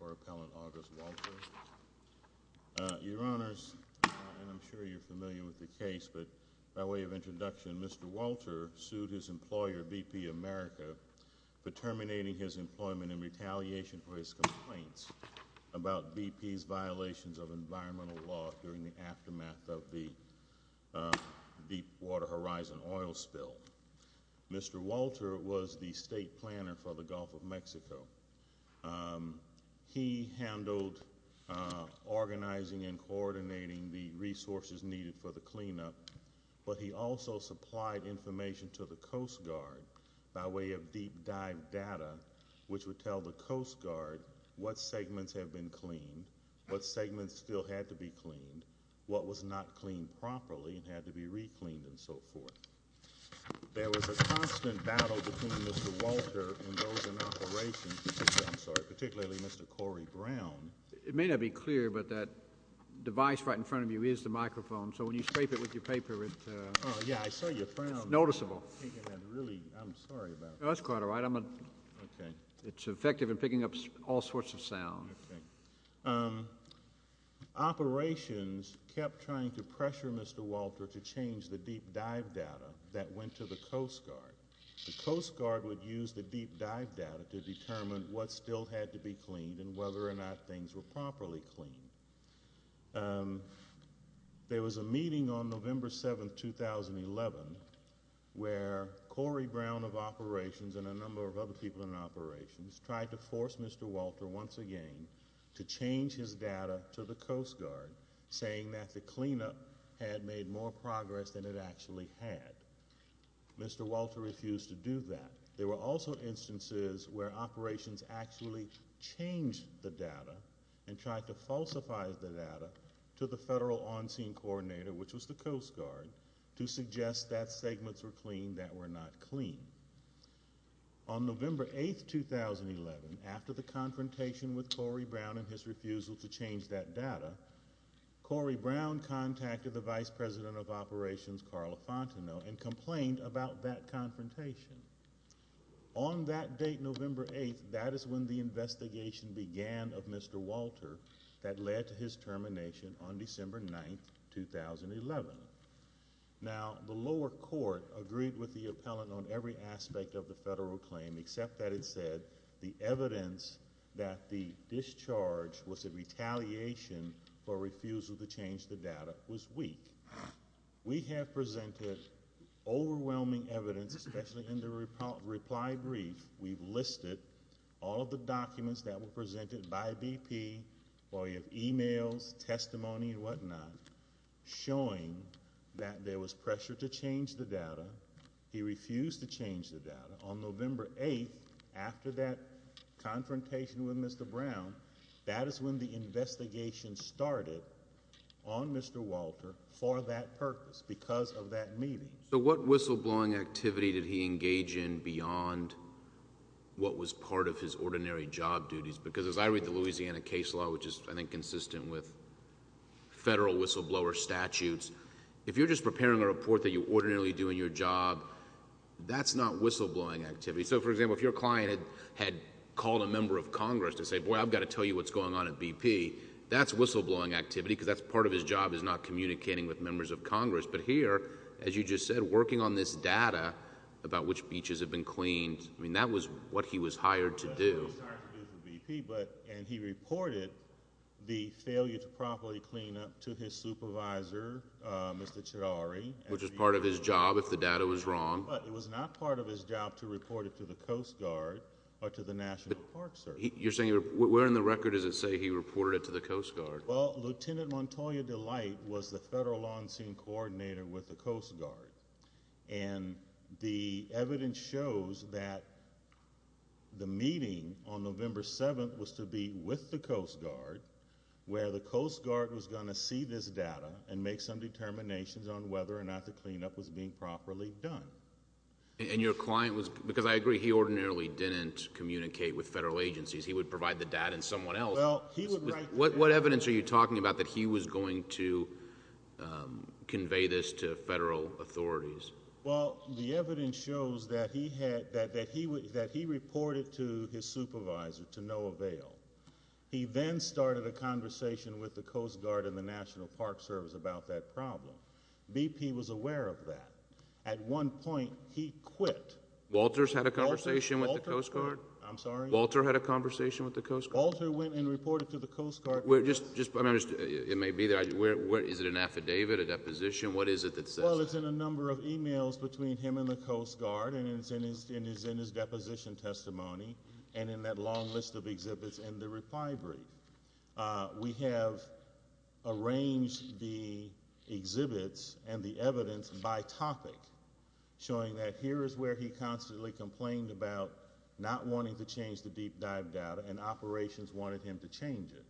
Appellant August Walter. Your Honors, and I'm sure you're familiar with the case, but by way of introduction, Mr. Walter sued his employer, BP America, for terminating his employment in retaliation for his complaints about BP's violations of environmental law during the aftermath of the Deepwater Horizon oil spill. Mr. Walter was the state planner for the Gulf of Mexico. He handled organizing and coordinating the resources needed for the cleanup, but he also supplied information to the Coast Guard by way of deep dive data, which would tell the Coast Guard what segments have been cleaned, what segments still had to be cleaned, what was not cleaned properly and had to be recleaned, and so forth. There was a constant battle between Mr. Walter and those in operations, particularly Mr. Corey Brown. It may not be clear, but that device right in front of you is the microphone, so when you scrape it with your paper, it's noticeable. I'm sorry about that. No, that's quite all right. It's effective in picking up all sorts of sound. Operations kept trying to pressure Mr. Walter to change the deep dive data that went to the Coast Guard. The Coast Guard would use the deep dive data to determine what still had to be cleaned and whether or not things were properly cleaned. There was a meeting on November 7, 2011, where Corey Brown of operations and a number of other people in operations tried to force Mr. Walter once again to change his data to the Coast Guard, saying that the cleanup had made more progress than it actually had. Mr. Walter refused to do that. There were also instances where operations actually changed the data and tried to falsify the data to the federal on-scene coordinator, which was the Coast Guard, to suggest that segments were cleaned that were not cleaned. On November 8, 2011, after the confrontation with Corey Brown and his refusal to change that data, Corey Brown contacted the vice president of operations, Carla Fontenot, and complained about that confrontation. On that date, November 8, that is when the investigation began of Mr. Walter that led to his termination on December 9, 2011. Now, the lower court agreed with the appellant on every aspect of the federal claim, except that it said the evidence that the discharge was a retaliation for refusal to change the data was weak. We have presented overwhelming evidence, especially in the reply brief. We've listed all of the documents that were presented by BP. We have emails, testimony, and whatnot showing that there was pressure to change the data. He refused to change the data. On November 8, after that confrontation with Mr. Brown, that is when the investigation started on Mr. Walter for that purpose, because of that meeting. So what whistleblowing activity did he engage in beyond what was part of his ordinary job duties? Because as I read the Louisiana case law, which is, I think, consistent with federal whistleblower statutes, if you're just preparing a report that you ordinarily do in your job, that's not whistleblowing activity. So, for example, if your client had called a member of Congress to say, boy, I've got to tell you what's going on at BP, that's whistleblowing activity because that's part of his job is not communicating with members of Congress. But here, as you just said, working on this data about which beaches have been cleaned, I mean, that was what he was hired to do. He was hired to do for BP, and he reported the failure to properly clean up to his supervisor, Mr. Cherari. Which is part of his job if the data was wrong. But it was not part of his job to report it to the Coast Guard or to the National Park Service. You're saying, where in the record does it say he reported it to the Coast Guard? Well, Lieutenant Montoya Delight was the federal on-scene coordinator with the Coast Guard, and the evidence shows that the meeting on November 7th was to be with the Coast Guard, where the Coast Guard was going to see this data and make some determinations on whether or not the cleanup was being properly done. And your client was – because I agree, he ordinarily didn't communicate with federal agencies. He would provide the data in someone else. What evidence are you talking about that he was going to convey this to federal authorities? Well, the evidence shows that he reported to his supervisor to no avail. He then started a conversation with the Coast Guard and the National Park Service about that problem. BP was aware of that. At one point, he quit. Walter's had a conversation with the Coast Guard? I'm sorry? Walter had a conversation with the Coast Guard? Walter went and reported to the Coast Guard. It may be there. Is it an affidavit, a deposition? What is it that says? Well, it's in a number of emails between him and the Coast Guard, and it's in his deposition testimony and in that long list of exhibits in the reply brief. We have arranged the exhibits and the evidence by topic, showing that here is where he constantly complained about not wanting to change the deep dive data and operations wanted him to change it.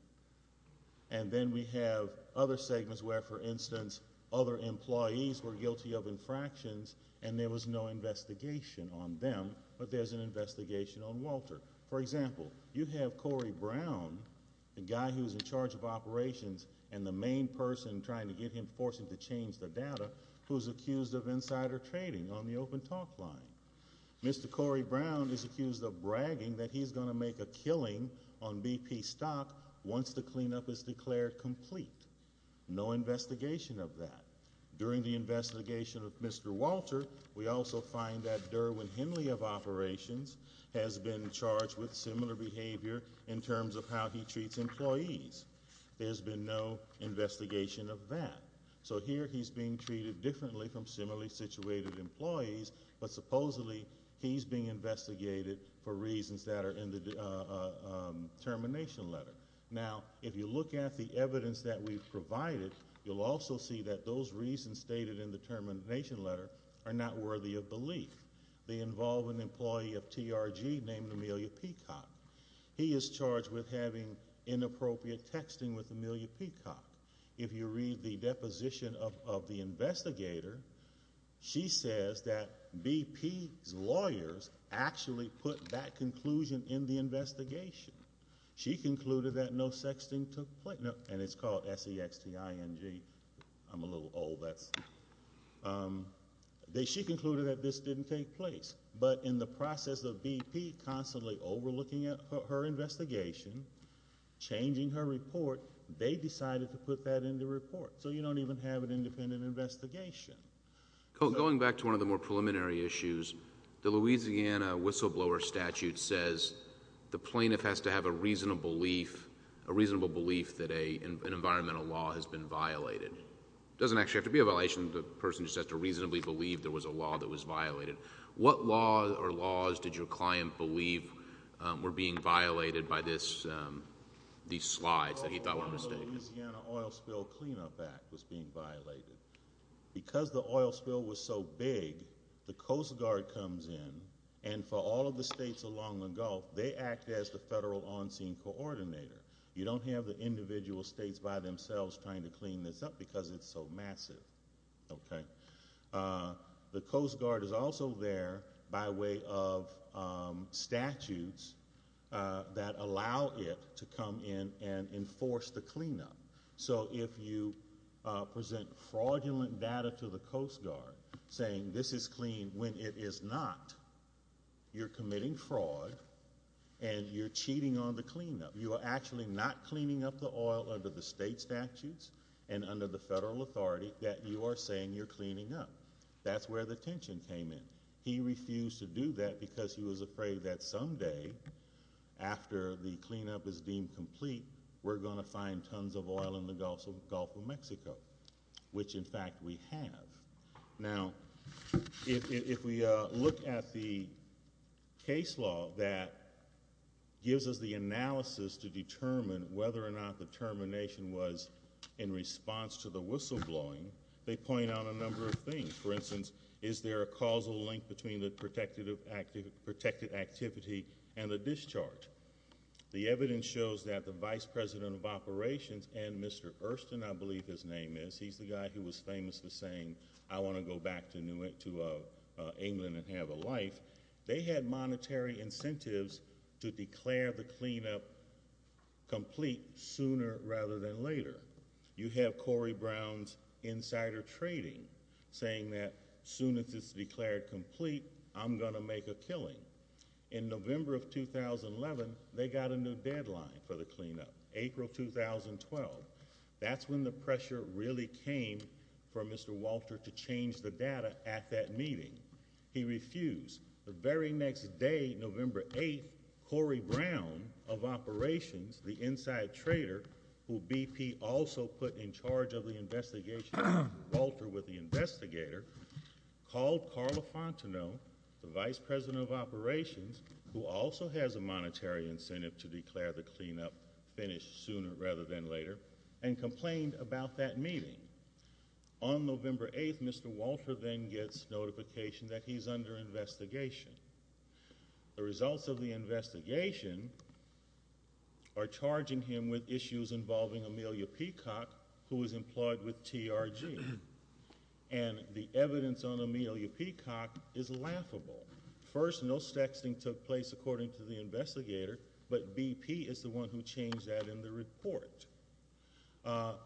And then we have other segments where, for instance, other employees were guilty of infractions and there was no investigation on them, but there's an investigation on Walter. For example, you have Corey Brown, the guy who's in charge of operations and the main person trying to get him, forcing him to change the data, who's accused of insider trading on the open talk line. Mr. Corey Brown is accused of bragging that he's going to make a killing on BP stock once the cleanup is declared complete. No investigation of that. During the investigation of Mr. Walter, we also find that Derwin Henley of operations has been charged with similar behavior in terms of how he treats employees. There's been no investigation of that. So here he's being treated differently from similarly situated employees, but supposedly he's being investigated for reasons that are in the termination letter. Now, if you look at the evidence that we've provided, you'll also see that those reasons stated in the termination letter are not worthy of belief. They involve an employee of TRG named Amelia Peacock. He is charged with having inappropriate texting with Amelia Peacock. If you read the deposition of the investigator, she says that BP's lawyers actually put that conclusion in the investigation. She concluded that no sexting took place. And it's called S-E-X-T-I-N-G. I'm a little old. She concluded that this didn't take place. But in the process of BP constantly overlooking her investigation, changing her report, they decided to put that in the report. So you don't even have an independent investigation. Going back to one of the more preliminary issues, the Louisiana whistleblower statute says the plaintiff has to have a reasonable belief, a reasonable belief that an environmental law has been violated. It doesn't actually have to be a violation. The person just has to reasonably believe there was a law that was violated. What law or laws did your client believe were being violated by these slides that he thought were a mistake? The Louisiana Oil Spill Cleanup Act was being violated. Because the oil spill was so big, the Coast Guard comes in, and for all of the states along the Gulf, they act as the federal on-scene coordinator. You don't have the individual states by themselves trying to clean this up because it's so massive. Okay. The Coast Guard is also there by way of statutes that allow it to come in and enforce the cleanup. So if you present fraudulent data to the Coast Guard saying this is clean when it is not, you're committing fraud and you're cheating on the cleanup. You are actually not cleaning up the oil under the state statutes and under the federal authority that you are saying you're cleaning up. That's where the tension came in. He refused to do that because he was afraid that someday, after the cleanup is deemed complete, we're going to find tons of oil in the Gulf of Mexico, which, in fact, we have. Now, if we look at the case law that gives us the analysis to determine whether or not the termination was in response to the whistleblowing, they point out a number of things. For instance, is there a causal link between the protected activity and the discharge? The evidence shows that the vice president of operations and Mr. Erston, I believe his name is, he's the guy who was famous for saying, I want to go back to England and have a life. They had monetary incentives to declare the cleanup complete sooner rather than later. You have Corey Brown's insider trading saying that as soon as it's declared complete, I'm going to make a killing. In November of 2011, they got a new deadline for the cleanup, April 2012. That's when the pressure really came for Mr. Walter to change the data at that meeting. He refused. The very next day, November 8th, Corey Brown of operations, the inside trader, who BP also put in charge of the investigation, Walter with the investigator, called Carla Fontenot, the vice president of operations, who also has a monetary incentive to declare the cleanup finished sooner rather than later, and complained about that meeting. On November 8th, Mr. Walter then gets notification that he's under investigation. The results of the investigation are charging him with issues involving Amelia Peacock, who was employed with TRG. And the evidence on Amelia Peacock is laughable. First, no sexting took place according to the investigator, but BP is the one who changed that in the report.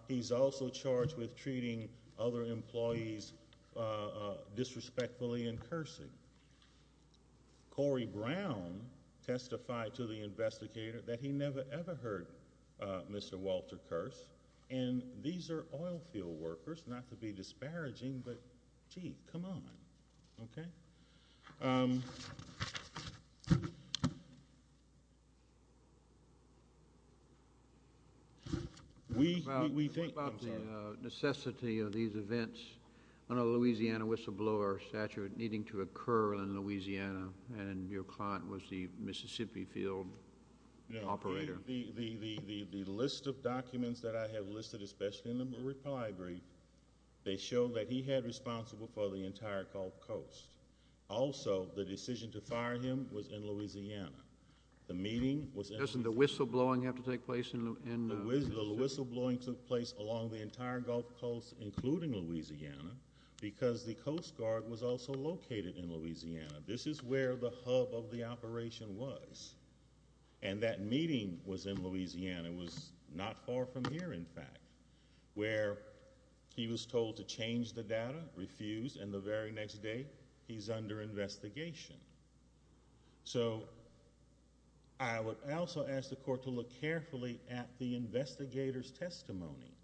He's also charged with treating other employees disrespectfully and cursing. Corey Brown testified to the investigator that he never, ever heard Mr. Walter curse, and these are oil field workers, not to be disparaging, but, gee, come on. Okay? We think about the necessity of these events on a Louisiana whistleblower statute needing to occur in Louisiana, and your client was the Mississippi field operator. The list of documents that I have listed, especially in the reply brief, they show that he had responsible for the entire Gulf Coast. Also, the decision to fire him was in Louisiana. The meeting was in Louisiana. Doesn't the whistleblowing have to take place in Louisiana? The whistleblowing took place along the entire Gulf Coast, including Louisiana, because the Coast Guard was also located in Louisiana. This is where the hub of the operation was. And that meeting was in Louisiana. It was not far from here, in fact, where he was told to change the data, refused, and the very next day he's under investigation. So I would also ask the court to look carefully at the investigator's testimony.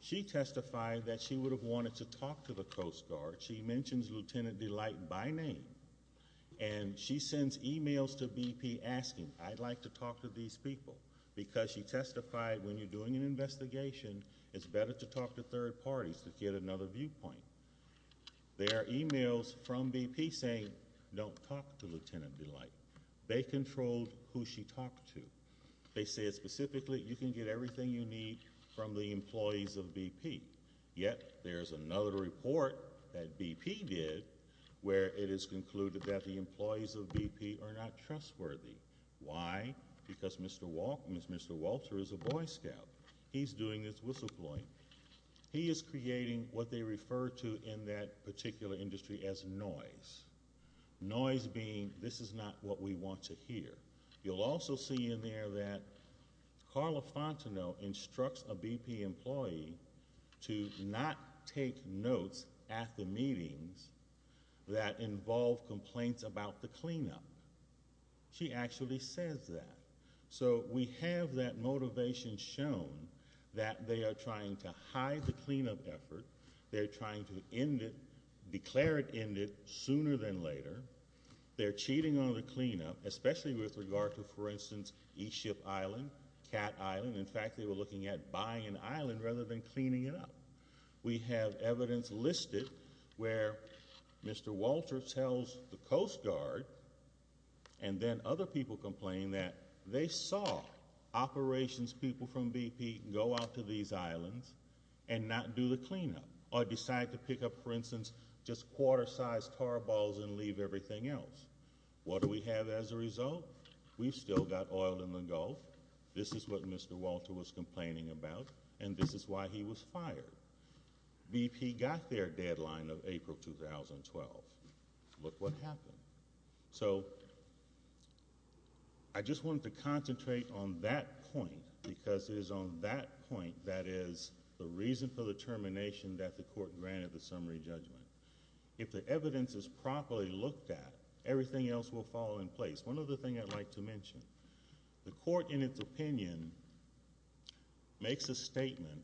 She testified that she would have wanted to talk to the Coast Guard. She mentions Lieutenant Delight by name, and she sends e-mails to BP asking, I'd like to talk to these people, because she testified when you're doing an investigation, it's better to talk to third parties to get another viewpoint. There are e-mails from BP saying don't talk to Lieutenant Delight. They controlled who she talked to. They said specifically you can get everything you need from the employees of BP. Yet there's another report that BP did where it is concluded that the employees of BP are not trustworthy. Why? Because Mr. Walter is a boy scout. He's doing this whistleblowing. He is creating what they refer to in that particular industry as noise, noise being this is not what we want to hear. You'll also see in there that Carla Fontenot instructs a BP employee to not take notes at the meetings that involve complaints about the cleanup. She actually says that. So we have that motivation shown that they are trying to hide the cleanup effort. They're trying to end it, declare it ended, sooner than later. They're cheating on the cleanup, especially with regard to, for instance, East Ship Island, Cat Island. In fact, they were looking at buying an island rather than cleaning it up. We have evidence listed where Mr. Walter tells the Coast Guard, and then other people complain, that they saw operations people from BP go out to these islands and not do the cleanup or decide to pick up, for instance, just quarter-sized tar balls and leave everything else. What do we have as a result? We've still got oil in the Gulf. This is what Mr. Walter was complaining about, and this is why he was fired. BP got their deadline of April 2012. Look what happened. So I just wanted to concentrate on that point because it is on that point that is the reason for the termination that the court granted the summary judgment. If the evidence is properly looked at, everything else will fall into place. One other thing I'd like to mention, the court, in its opinion, makes a statement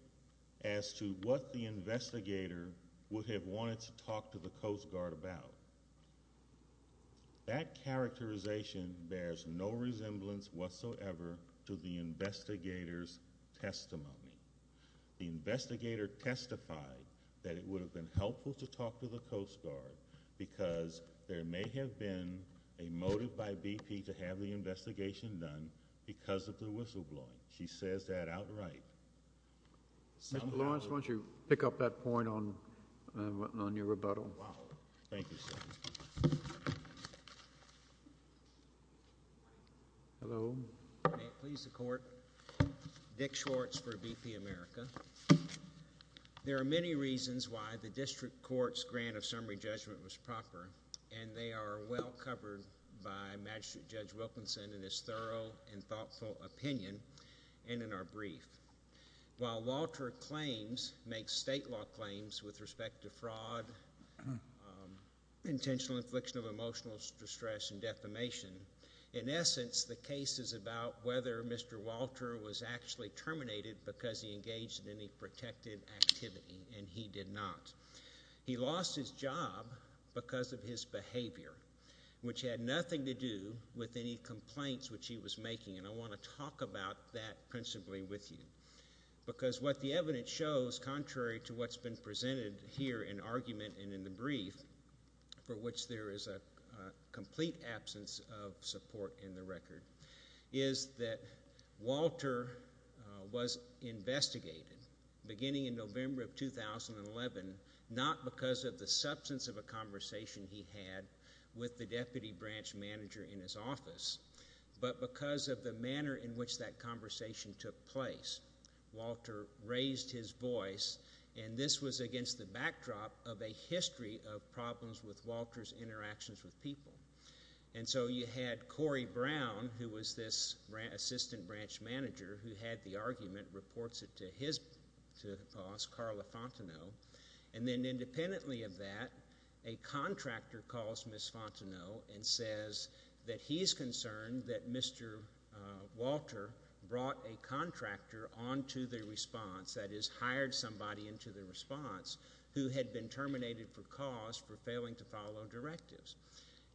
as to what the investigator would have wanted to talk to the Coast Guard about. That characterization bears no resemblance whatsoever to the investigator's testimony. The investigator testified that it would have been helpful to talk to the Coast Guard because there may have been a motive by BP to have the investigation done because of the whistleblowing. She says that outright. Mr. Lawrence, why don't you pick up that point on your rebuttal? Thank you, sir. Hello. May it please the Court. Dick Schwartz for BP America. There are many reasons why the district court's grant of summary judgment was proper, and they are well covered by Magistrate Judge Wilkinson in his thorough and thoughtful opinion and in our brief. While Walter claims, makes state law claims with respect to fraud, intentional infliction of emotional distress and defamation, in essence the case is about whether Mr. Walter was actually terminated because he engaged in any protected activity, and he did not. He lost his job because of his behavior, which had nothing to do with any complaints which he was making, and I want to talk about that principally with you because what the evidence shows, contrary to what's been presented here in argument and in the brief, for which there is a complete absence of support in the record, is that Walter was investigated beginning in November of 2011, not because of the substance of a conversation he had with the deputy branch manager in his office, but because of the manner in which that conversation took place. Walter raised his voice, and this was against the backdrop of a history of problems with Walter's interactions with people. And so you had Corey Brown, who was this assistant branch manager who had the argument, reports it to his boss, Carla Fontenot, and then independently of that, a contractor calls Ms. Fontenot and says that he is concerned that Mr. Walter brought a contractor onto the response, that is, hired somebody into the response, who had been terminated for cause for failing to follow directives.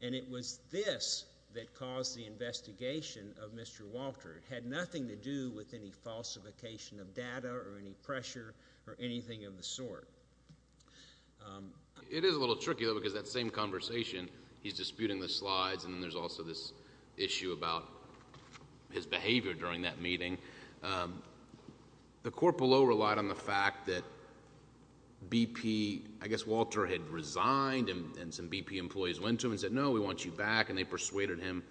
And it was this that caused the investigation of Mr. Walter. It had nothing to do with any falsification of data or any pressure or anything of the sort. It is a little tricky, though, because that same conversation, he's disputing the slides, and then there's also this issue about his behavior during that meeting. The court below relied on the fact that BP, I guess Walter had resigned, and some BP employees went to him and said, no, we want you back, and they persuaded him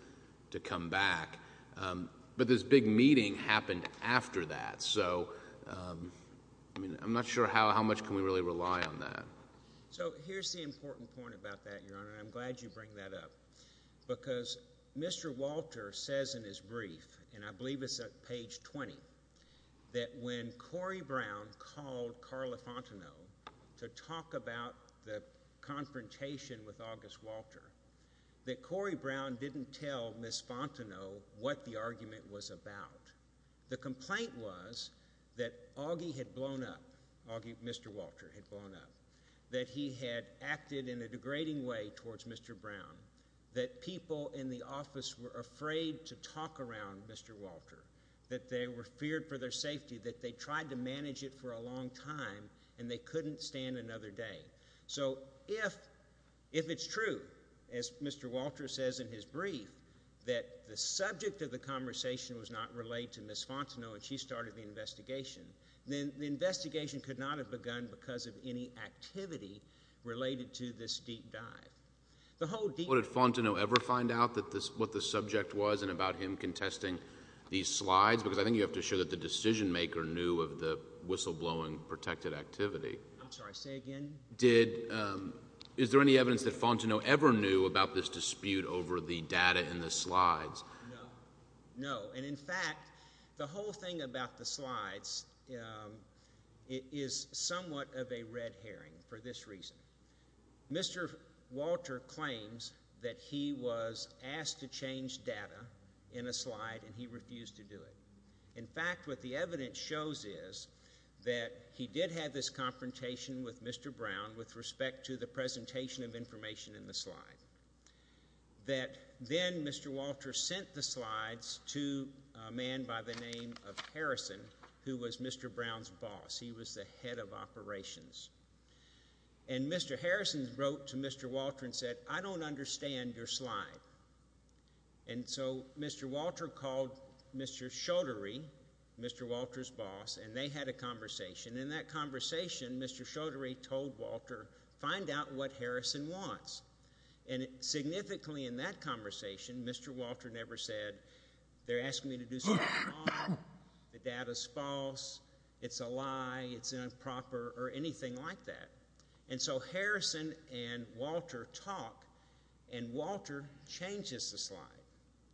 to come back. But this big meeting happened after that. So, I mean, I'm not sure how much can we really rely on that. So here's the important point about that, Your Honor, and I'm glad you bring that up, because Mr. Walter says in his brief, and I believe it's at page 20, that when Corey Brown called Carla Fontenot to talk about the confrontation with August Walter, that Corey Brown didn't tell Ms. Fontenot what the argument was about. The complaint was that Augie had blown up, Mr. Walter had blown up, that he had acted in a degrading way towards Mr. Brown, that people in the office were afraid to talk around Mr. Walter, that they were feared for their safety, that they tried to manage it for a long time, and they couldn't stand another day. So if it's true, as Mr. Walter says in his brief, that the subject of the conversation was not related to Ms. Fontenot, and she started the investigation, then the investigation could not have begun because of any activity related to this deep dive. What, did Fontenot ever find out what the subject was and about him contesting these slides? Because I think you have to show that the decision maker knew of the whistleblowing protected activity. I'm sorry, say again? Is there any evidence that Fontenot ever knew about this dispute over the data in the slides? No. No. And, in fact, the whole thing about the slides is somewhat of a red herring for this reason. Mr. Walter claims that he was asked to change data in a slide, and he refused to do it. In fact, what the evidence shows is that he did have this confrontation with Mr. Brown with respect to the presentation of information in the slide, that then Mr. Walter sent the slides to a man by the name of Harrison, who was Mr. Brown's boss. He was the head of operations. And Mr. Harrison wrote to Mr. Walter and said, I don't understand your slide. And so Mr. Walter called Mr. Chaudhary, Mr. Walter's boss, and they had a conversation. In that conversation, Mr. Chaudhary told Walter, find out what Harrison wants. And significantly in that conversation, Mr. Walter never said, they're asking me to do something wrong, the data's false, it's a lie, it's improper, or anything like that. And so Harrison and Walter talk, and Walter changes the slide.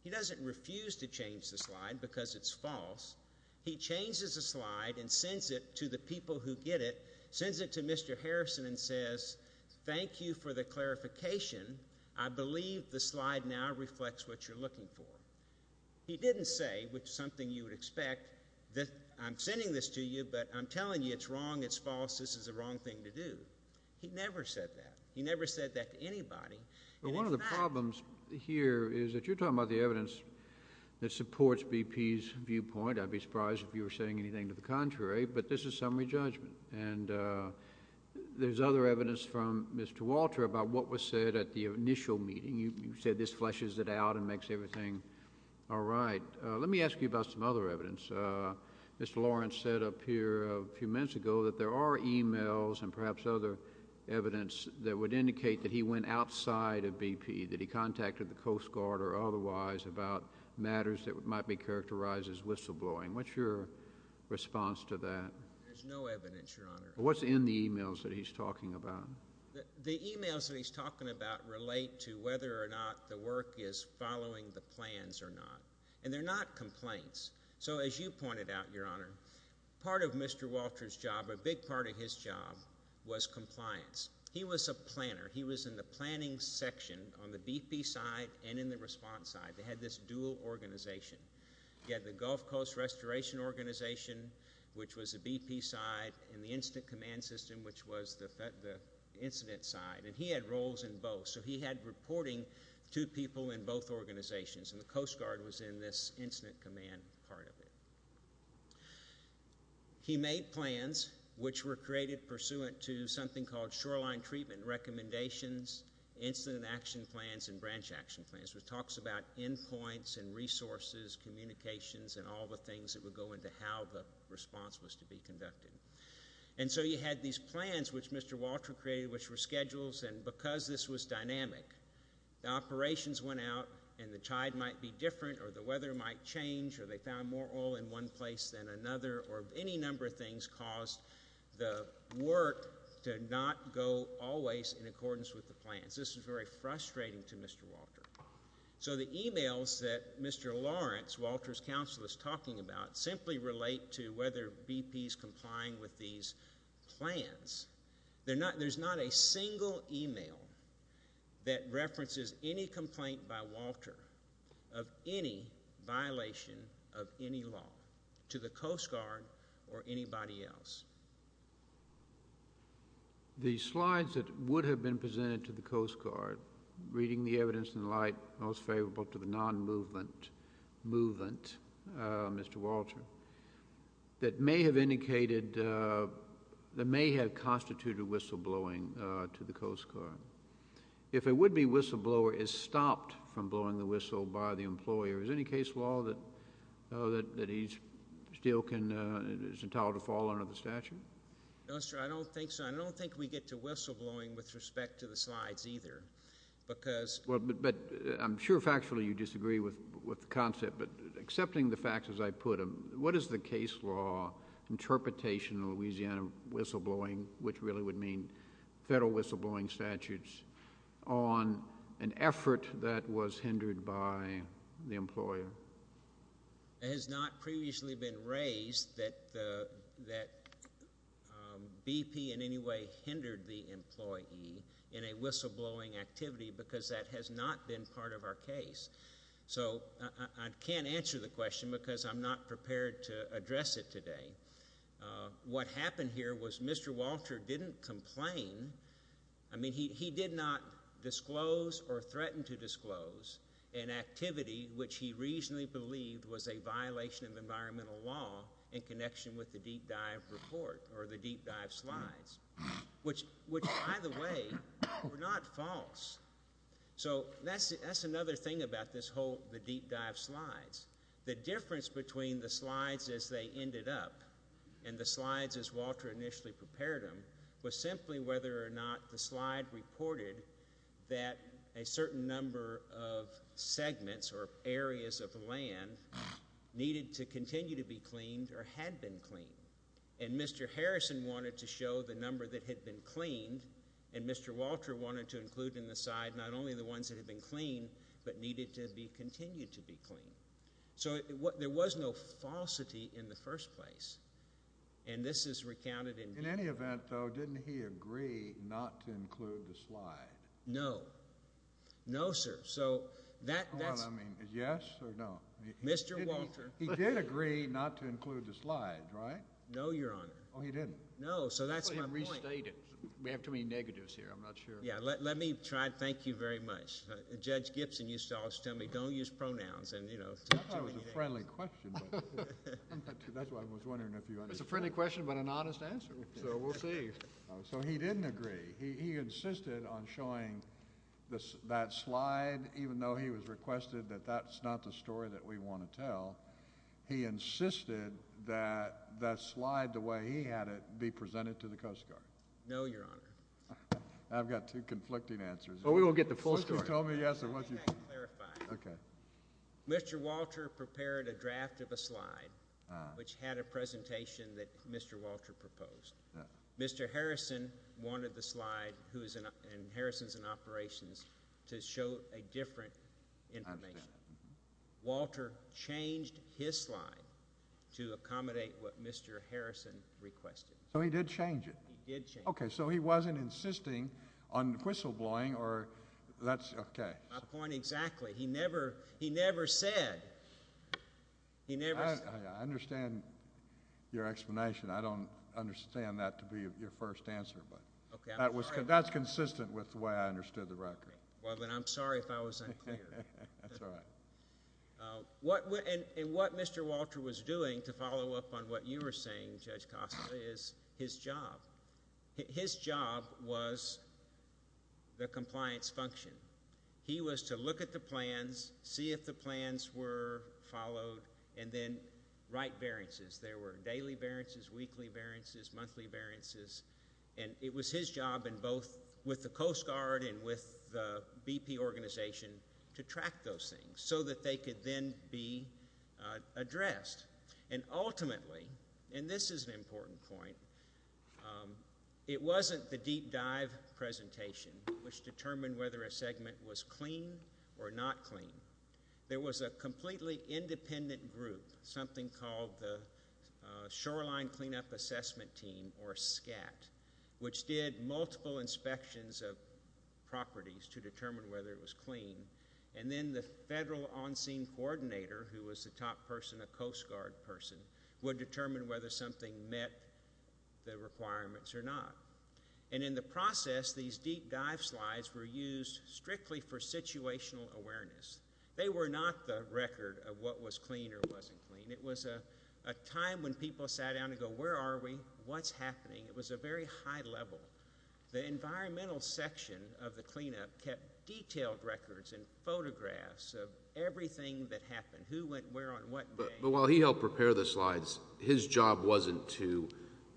He doesn't refuse to change the slide because it's false. He changes the slide and sends it to the people who get it, sends it to Mr. Harrison and says, thank you for the clarification. I believe the slide now reflects what you're looking for. He didn't say, which is something you would expect, that I'm sending this to you, but I'm telling you it's wrong, it's false, this is the wrong thing to do. He never said that. He never said that to anybody. One of the problems here is that you're talking about the evidence that supports BP's viewpoint. I'd be surprised if you were saying anything to the contrary. But this is summary judgment. And there's other evidence from Mr. Walter about what was said at the initial meeting. You said this fleshes it out and makes everything all right. Let me ask you about some other evidence. Mr. Lawrence said up here a few minutes ago that there are e-mails and perhaps other evidence that would indicate that he went outside of BP, that he contacted the Coast Guard or otherwise about matters that might be characterized as whistleblowing. What's your response to that? There's no evidence, Your Honor. What's in the e-mails that he's talking about? The e-mails that he's talking about relate to whether or not the work is following the plans or not. And they're not complaints. So as you pointed out, Your Honor, part of Mr. Walter's job, a big part of his job, was compliance. He was a planner. He was in the planning section on the BP side and in the response side. They had this dual organization. You had the Gulf Coast Restoration Organization, which was the BP side, and the Incident Command System, which was the incident side. And he had roles in both. So he had reporting to people in both organizations. And the Coast Guard was in this incident command part of it. He made plans, which were created pursuant to something called shoreline treatment recommendations, incident action plans, and branch action plans, which talks about endpoints and resources, communications, and all the things that would go into how the response was to be conducted. And so you had these plans, which Mr. Walter created, which were schedules. And because this was dynamic, the operations went out and the tide might be different or the weather might change or they found more oil in one place than another or any number of things caused the work to not go always in accordance with the plans. This was very frustrating to Mr. Walter. So the e-mails that Mr. Lawrence, Walter's counselor, is talking about, simply relate to whether BP is complying with these plans. There's not a single e-mail that references any complaint by Walter of any violation of any law to the Coast Guard or anybody else. The slides that would have been presented to the Coast Guard, reading the evidence in light most favorable to the non-movement movement, Mr. Walter, that may have constituted whistleblowing to the Coast Guard. If a would-be whistleblower is stopped from blowing the whistle by the employer, is there any case law that he still is entitled to fall under the statute? I don't think so. I don't think we get to whistleblowing with respect to the slides either. But I'm sure factually you disagree with the concept. But accepting the facts as I put them, what is the case law interpretation in Louisiana whistleblowing, which really would mean federal whistleblowing statutes, on an effort that was hindered by the employer? It has not previously been raised that BP in any way hindered the employee in a whistleblowing activity because that has not been part of our case. So I can't answer the question because I'm not prepared to address it today. What happened here was Mr. Walter didn't complain. I mean, he did not disclose or threaten to disclose an activity, which he reasonably believed was a violation of environmental law in connection with the deep dive report or the deep dive slides, which, by the way, were not false. So that's another thing about the deep dive slides. The difference between the slides as they ended up and the slides as Walter initially prepared them was simply whether or not the slide reported that a certain number of segments or areas of land needed to continue to be cleaned or had been cleaned. And Mr. Harrison wanted to show the number that had been cleaned, and Mr. Walter wanted to include in the slide not only the ones that had been cleaned but needed to be continued to be cleaned. So there was no falsity in the first place. And this is recounted in BP. In any event, though, didn't he agree not to include the slide? No. No, sir. So that's – Hold on. I mean, yes or no? Mr. Walter – He did agree not to include the slide, right? No, Your Honor. Oh, he didn't? No, so that's my point. He didn't state it. We have too many negatives here. I'm not sure. Yeah, let me try to thank you very much. Judge Gibson used to always tell me don't use pronouns and, you know. I thought it was a friendly question. That's why I was wondering if you understood. It's a friendly question but an honest answer, so we'll see. So he didn't agree. He insisted on showing that slide even though he was requested that that's not the story that we want to tell. He insisted that that slide, the way he had it, be presented to the Coast Guard. No, Your Honor. I've got two conflicting answers. Well, we won't get the full story. Once you've told me yes, I want you to – Let me clarify. Okay. Mr. Walter prepared a draft of a slide which had a presentation that Mr. Walter proposed. Mr. Harrison wanted the slide in Harrisons and Operations to show a different information. I understand. Walter changed his slide to accommodate what Mr. Harrison requested. So he did change it? He did change it. Okay. So he wasn't insisting on whistleblowing or that's – okay. My point exactly. He never said – he never – I understand your explanation. I don't understand that to be your first answer. Okay. That's consistent with the way I understood the record. Well, then I'm sorry if I was unclear. That's all right. And what Mr. Walter was doing, to follow up on what you were saying, Judge Costa, is his job. His job was the compliance function. He was to look at the plans, see if the plans were followed, and then write variances. There were daily variances, weekly variances, monthly variances. And it was his job in both with the Coast Guard and with the BP organization to track those things so that they could then be addressed. And ultimately – and this is an important point – it wasn't the deep dive presentation which determined whether a segment was clean or not clean. There was a completely independent group, something called the Shoreline Cleanup Assessment Team, or SCAT, which did multiple inspections of properties to determine whether it was clean. And then the federal on-scene coordinator, who was the top person, a Coast Guard person, would determine whether something met the requirements or not. And in the process, these deep dive slides were used strictly for situational awareness. They were not the record of what was clean or wasn't clean. It was a time when people sat down and go, where are we? What's happening? It was a very high level. The environmental section of the cleanup kept detailed records and photographs of everything that happened, who went where on what day. But while he helped prepare the slides, his job wasn't to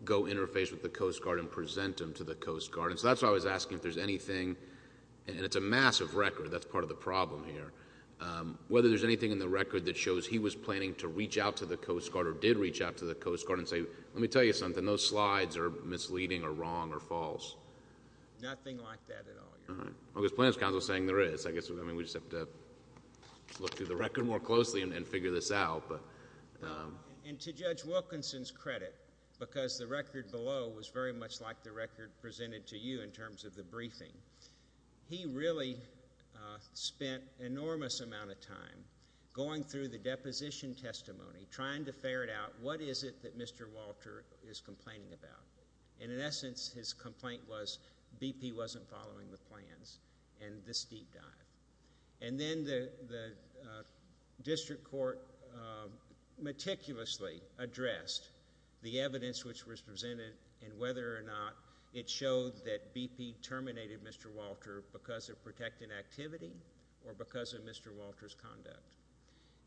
go interface with the Coast Guard and present them to the Coast Guard. And so that's why I was asking if there's anything – and it's a massive record. That's part of the problem here. Whether there's anything in the record that shows he was planning to reach out to the Coast Guard or did reach out to the Coast Guard and say, let me tell you something, those slides are misleading or wrong or false. Nothing like that at all, Your Honor. Well, there's Planning Council saying there is. I guess, I mean, we just have to look through the record more closely and figure this out. And to Judge Wilkinson's credit, because the record below was very much like the record presented to you in terms of the briefing, he really spent an enormous amount of time going through the deposition testimony, trying to ferret out what is it that Mr. Walter is complaining about. And in essence, his complaint was BP wasn't following the plans and this deep dive. And then the district court meticulously addressed the evidence which was presented and whether or not it showed that BP terminated Mr. Walter because of protecting activity or because of Mr. Walter's conduct.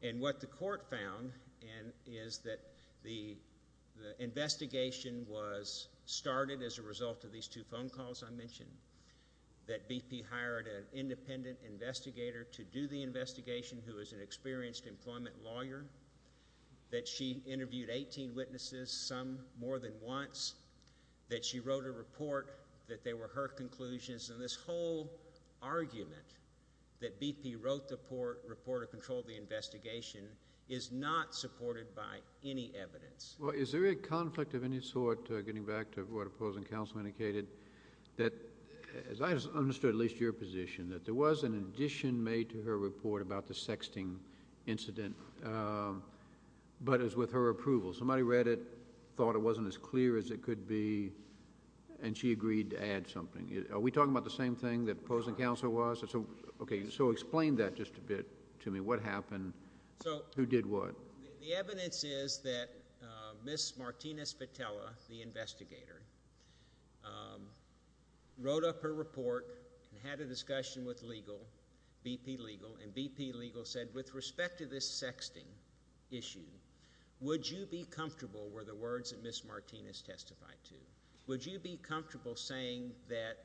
And what the court found is that the investigation was started as a result of these two phone calls I mentioned, that BP hired an independent investigator to do the investigation who was an experienced employment lawyer, that she interviewed 18 witnesses, some more than once, that she wrote a report that they were her conclusions. And this whole argument that BP wrote the report to control the investigation is not supported by any evidence. Well, is there a conflict of any sort, getting back to what opposing counsel indicated, that, as I understood at least your position, that there was an addition made to her report about the sexting incident, but it was with her approval. Somebody read it, thought it wasn't as clear as it could be, and she agreed to add something. Are we talking about the same thing that opposing counsel was? So explain that just a bit to me. What happened? Who did what? Well, the evidence is that Ms. Martinez Vitella, the investigator, wrote up her report and had a discussion with legal, BP legal, and BP legal said, with respect to this sexting issue, would you be comfortable were the words that Ms. Martinez testified to, would you be comfortable saying that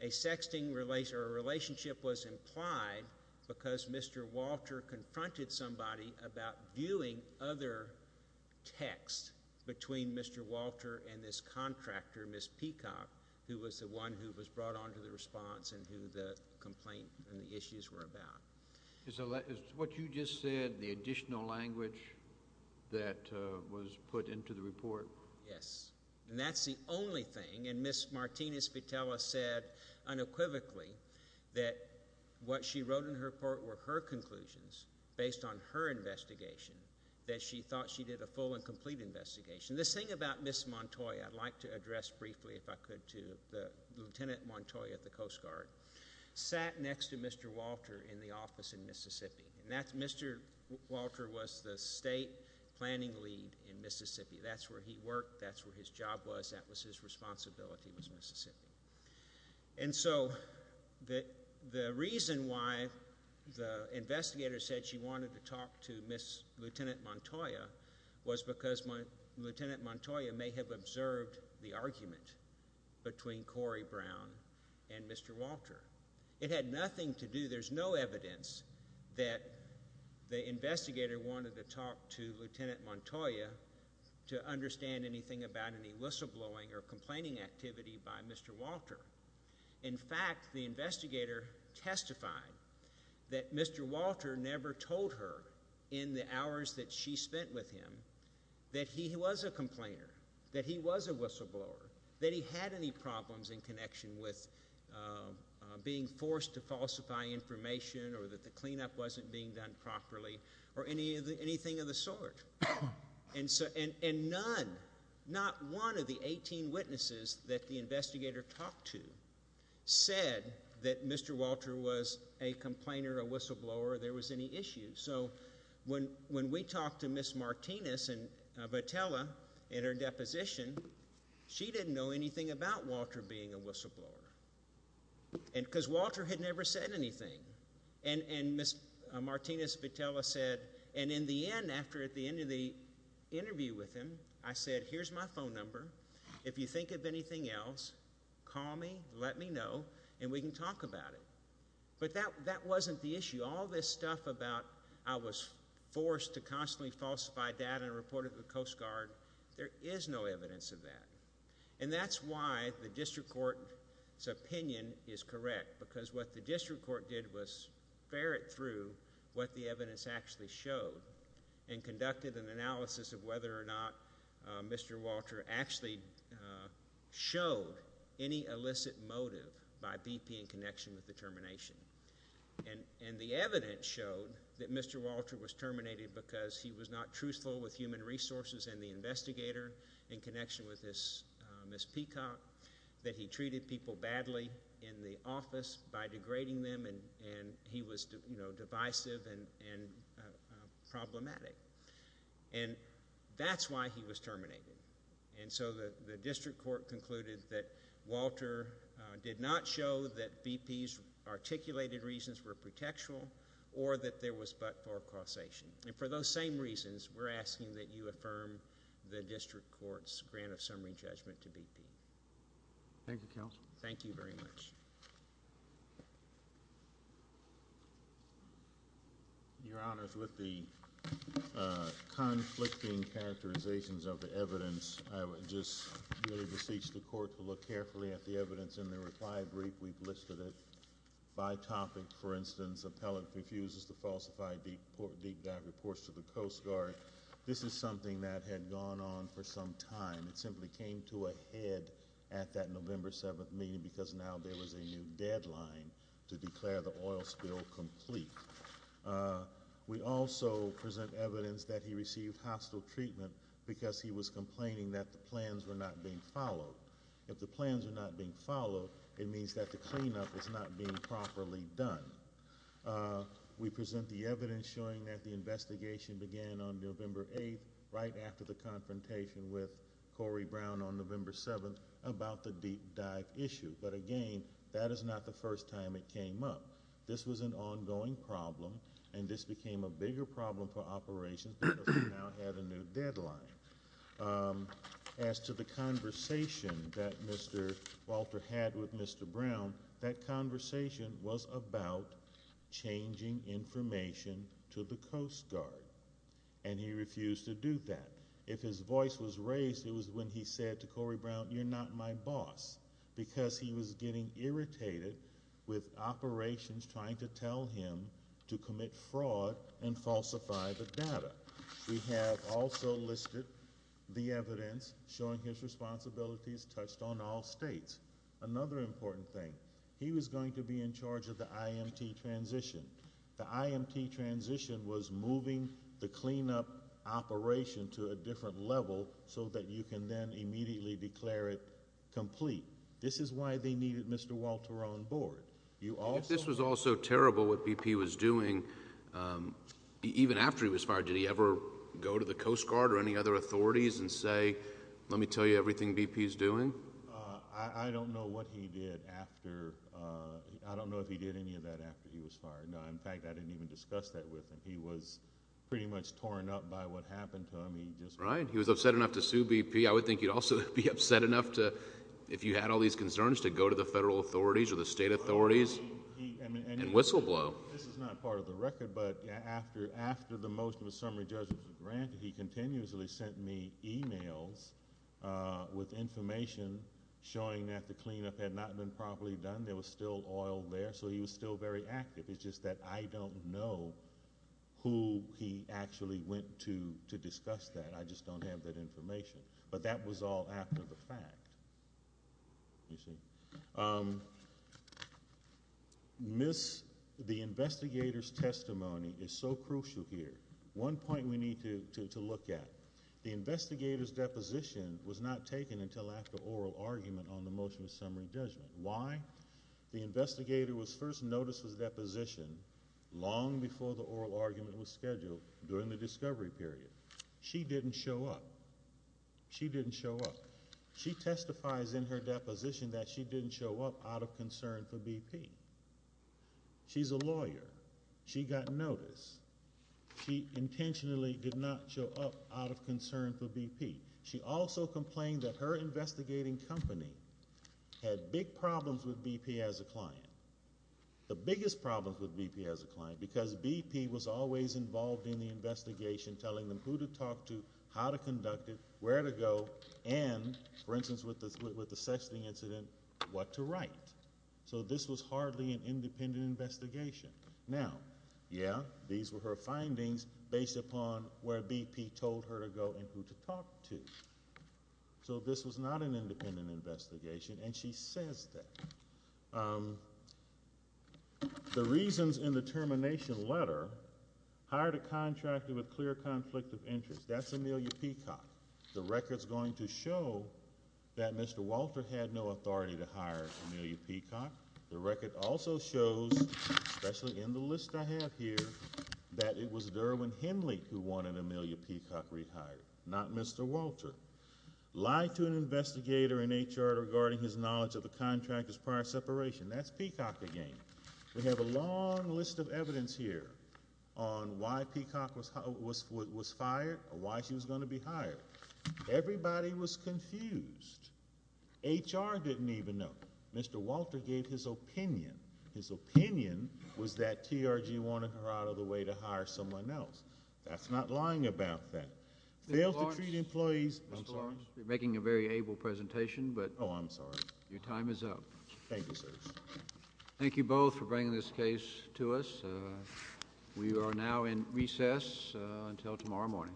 a sexting relationship was implied because Mr. Walter confronted somebody about viewing other texts between Mr. Walter and this contractor, Ms. Peacock, who was the one who was brought on to the response and who the complaint and the issues were about. Is what you just said the additional language that was put into the report? Yes. And that's the only thing. And Ms. Martinez Vitella said unequivocally that what she wrote in her report were her conclusions, based on her investigation, that she thought she did a full and complete investigation. This thing about Ms. Montoya, I'd like to address briefly, if I could, to Lieutenant Montoya of the Coast Guard, sat next to Mr. Walter in the office in Mississippi, and Mr. Walter was the state planning lead in Mississippi. That's where he worked, that's where his job was, that was his responsibility was Mississippi. And so the reason why the investigator said she wanted to talk to Lieutenant Montoya was because Lieutenant Montoya may have observed the argument between Corey Brown and Mr. Walter. It had nothing to do, there's no evidence, that the investigator wanted to talk to Lieutenant Montoya to understand anything about any whistleblowing or complaining activity by Mr. Walter. In fact, the investigator testified that Mr. Walter never told her in the hours that she spent with him that he was a complainer, that he was a whistleblower, that he had any problems in connection with being forced to falsify information or that the cleanup wasn't being done properly or anything of the sort. And none, not one of the 18 witnesses that the investigator talked to said that Mr. Walter was a complainer, a whistleblower, or there was any issue. So when we talked to Ms. Martinez and Votella in her deposition, she didn't know anything about Walter being a whistleblower. Because Walter had never said anything. And Ms. Martinez-Votella said, and in the end, after at the end of the interview with him, I said, here's my phone number. If you think of anything else, call me, let me know, and we can talk about it. But that wasn't the issue. All this stuff about I was forced to constantly falsify data and report it to the Coast Guard, there is no evidence of that. And that's why the district court's opinion is correct, because what the district court did was ferret through what the evidence actually showed and conducted an analysis of whether or not Mr. Walter actually showed any illicit motive by BP in connection with the termination. And the evidence showed that Mr. Walter was terminated because he was not truthful with human resources and the investigator in connection with Ms. Peacock, that he treated people badly in the office by degrading them and he was divisive and problematic. And that's why he was terminated. And so the district court concluded that Walter did not show that BP's articulated reasons were pretextual or that there was but-for causation. And for those same reasons, we're asking that you affirm the district court's grant of summary judgment to BP. Thank you, counsel. Thank you very much. Your Honors, with the conflicting characterizations of the evidence, I would just really beseech the court to look carefully at the evidence in the required brief. We've listed it. By topic, for instance, appellant refuses to falsify deep dive reports to the Coast Guard. This is something that had gone on for some time. It simply came to a head at that November 7th meeting because now there was a new deadline to declare the oil spill complete. We also present evidence that he received hostile treatment because he was complaining that the plans were not being followed. If the plans are not being followed, it means that the cleanup is not being properly done. We present the evidence showing that the investigation began on November 8th, right after the confrontation with Corey Brown on November 7th, about the deep dive issue. But, again, that is not the first time it came up. This was an ongoing problem, and this became a bigger problem for operations because we now had a new deadline. As to the conversation that Mr. Walter had with Mr. Brown, that conversation was about changing information to the Coast Guard, and he refused to do that. If his voice was raised, it was when he said to Corey Brown, you're not my boss because he was getting irritated with operations trying to tell him to commit fraud and falsify the data. We have also listed the evidence showing his responsibilities touched on all states. Another important thing, he was going to be in charge of the IMT transition. The IMT transition was moving the cleanup operation to a different level so that you can then immediately declare it complete. This is why they needed Mr. Walter on board. If this was also terrible, what BP was doing, even after he was fired, did he ever go to the Coast Guard or any other authorities and say, let me tell you everything BP is doing? I don't know what he did after. I don't know if he did any of that after he was fired. In fact, I didn't even discuss that with him. He was pretty much torn up by what happened to him. Right. He was upset enough to sue BP. I would think he'd also be upset enough to, if you had all these concerns, to go to the federal authorities or the state authorities and whistleblow. This is not part of the record, but after the motion of a summary judgment was granted, he continuously sent me e-mails with information showing that the cleanup had not been properly done. There was still oil there, so he was still very active. It's just that I don't know who he actually went to to discuss that. I just don't have that information. But that was all after the fact. The investigator's testimony is so crucial here. One point we need to look at. The investigator's deposition was not taken until after oral argument on the motion of summary judgment. Why? The investigator was first noticed as a deposition long before the oral argument was scheduled during the discovery period. She didn't show up. She didn't show up. She testifies in her deposition that she didn't show up out of concern for BP. She's a lawyer. She got notice. She intentionally did not show up out of concern for BP. She also complained that her investigating company had big problems with BP as a client, the biggest problems with BP as a client, because BP was always involved in the investigation, telling them who to talk to, how to conduct it, where to go, and, for instance, with the sexting incident, what to write. So this was hardly an independent investigation. Now, yeah, these were her findings based upon where BP told her to go and who to talk to. So this was not an independent investigation, and she says that. The reasons in the termination letter hired a contractor with clear conflict of interest. That's Amelia Peacock. The record's going to show that Mr. Walter had no authority to hire Amelia Peacock. The record also shows, especially in the list I have here, that it was Derwin Henley who wanted Amelia Peacock rehired, not Mr. Walter. Lied to an investigator in HR regarding his knowledge of the contractor's prior separation. That's Peacock again. We have a long list of evidence here on why Peacock was fired or why she was going to be hired. Everybody was confused. HR didn't even know. Mr. Walter gave his opinion. His opinion was that TRG wanted her out of the way to hire someone else. That's not lying about that. Failed to treat employees. Mr. Lawrence, you're making a very able presentation, but your time is up. Oh, I'm sorry. Thank you, sir. Thank you both for bringing this case to us. We are now in recess until tomorrow morning.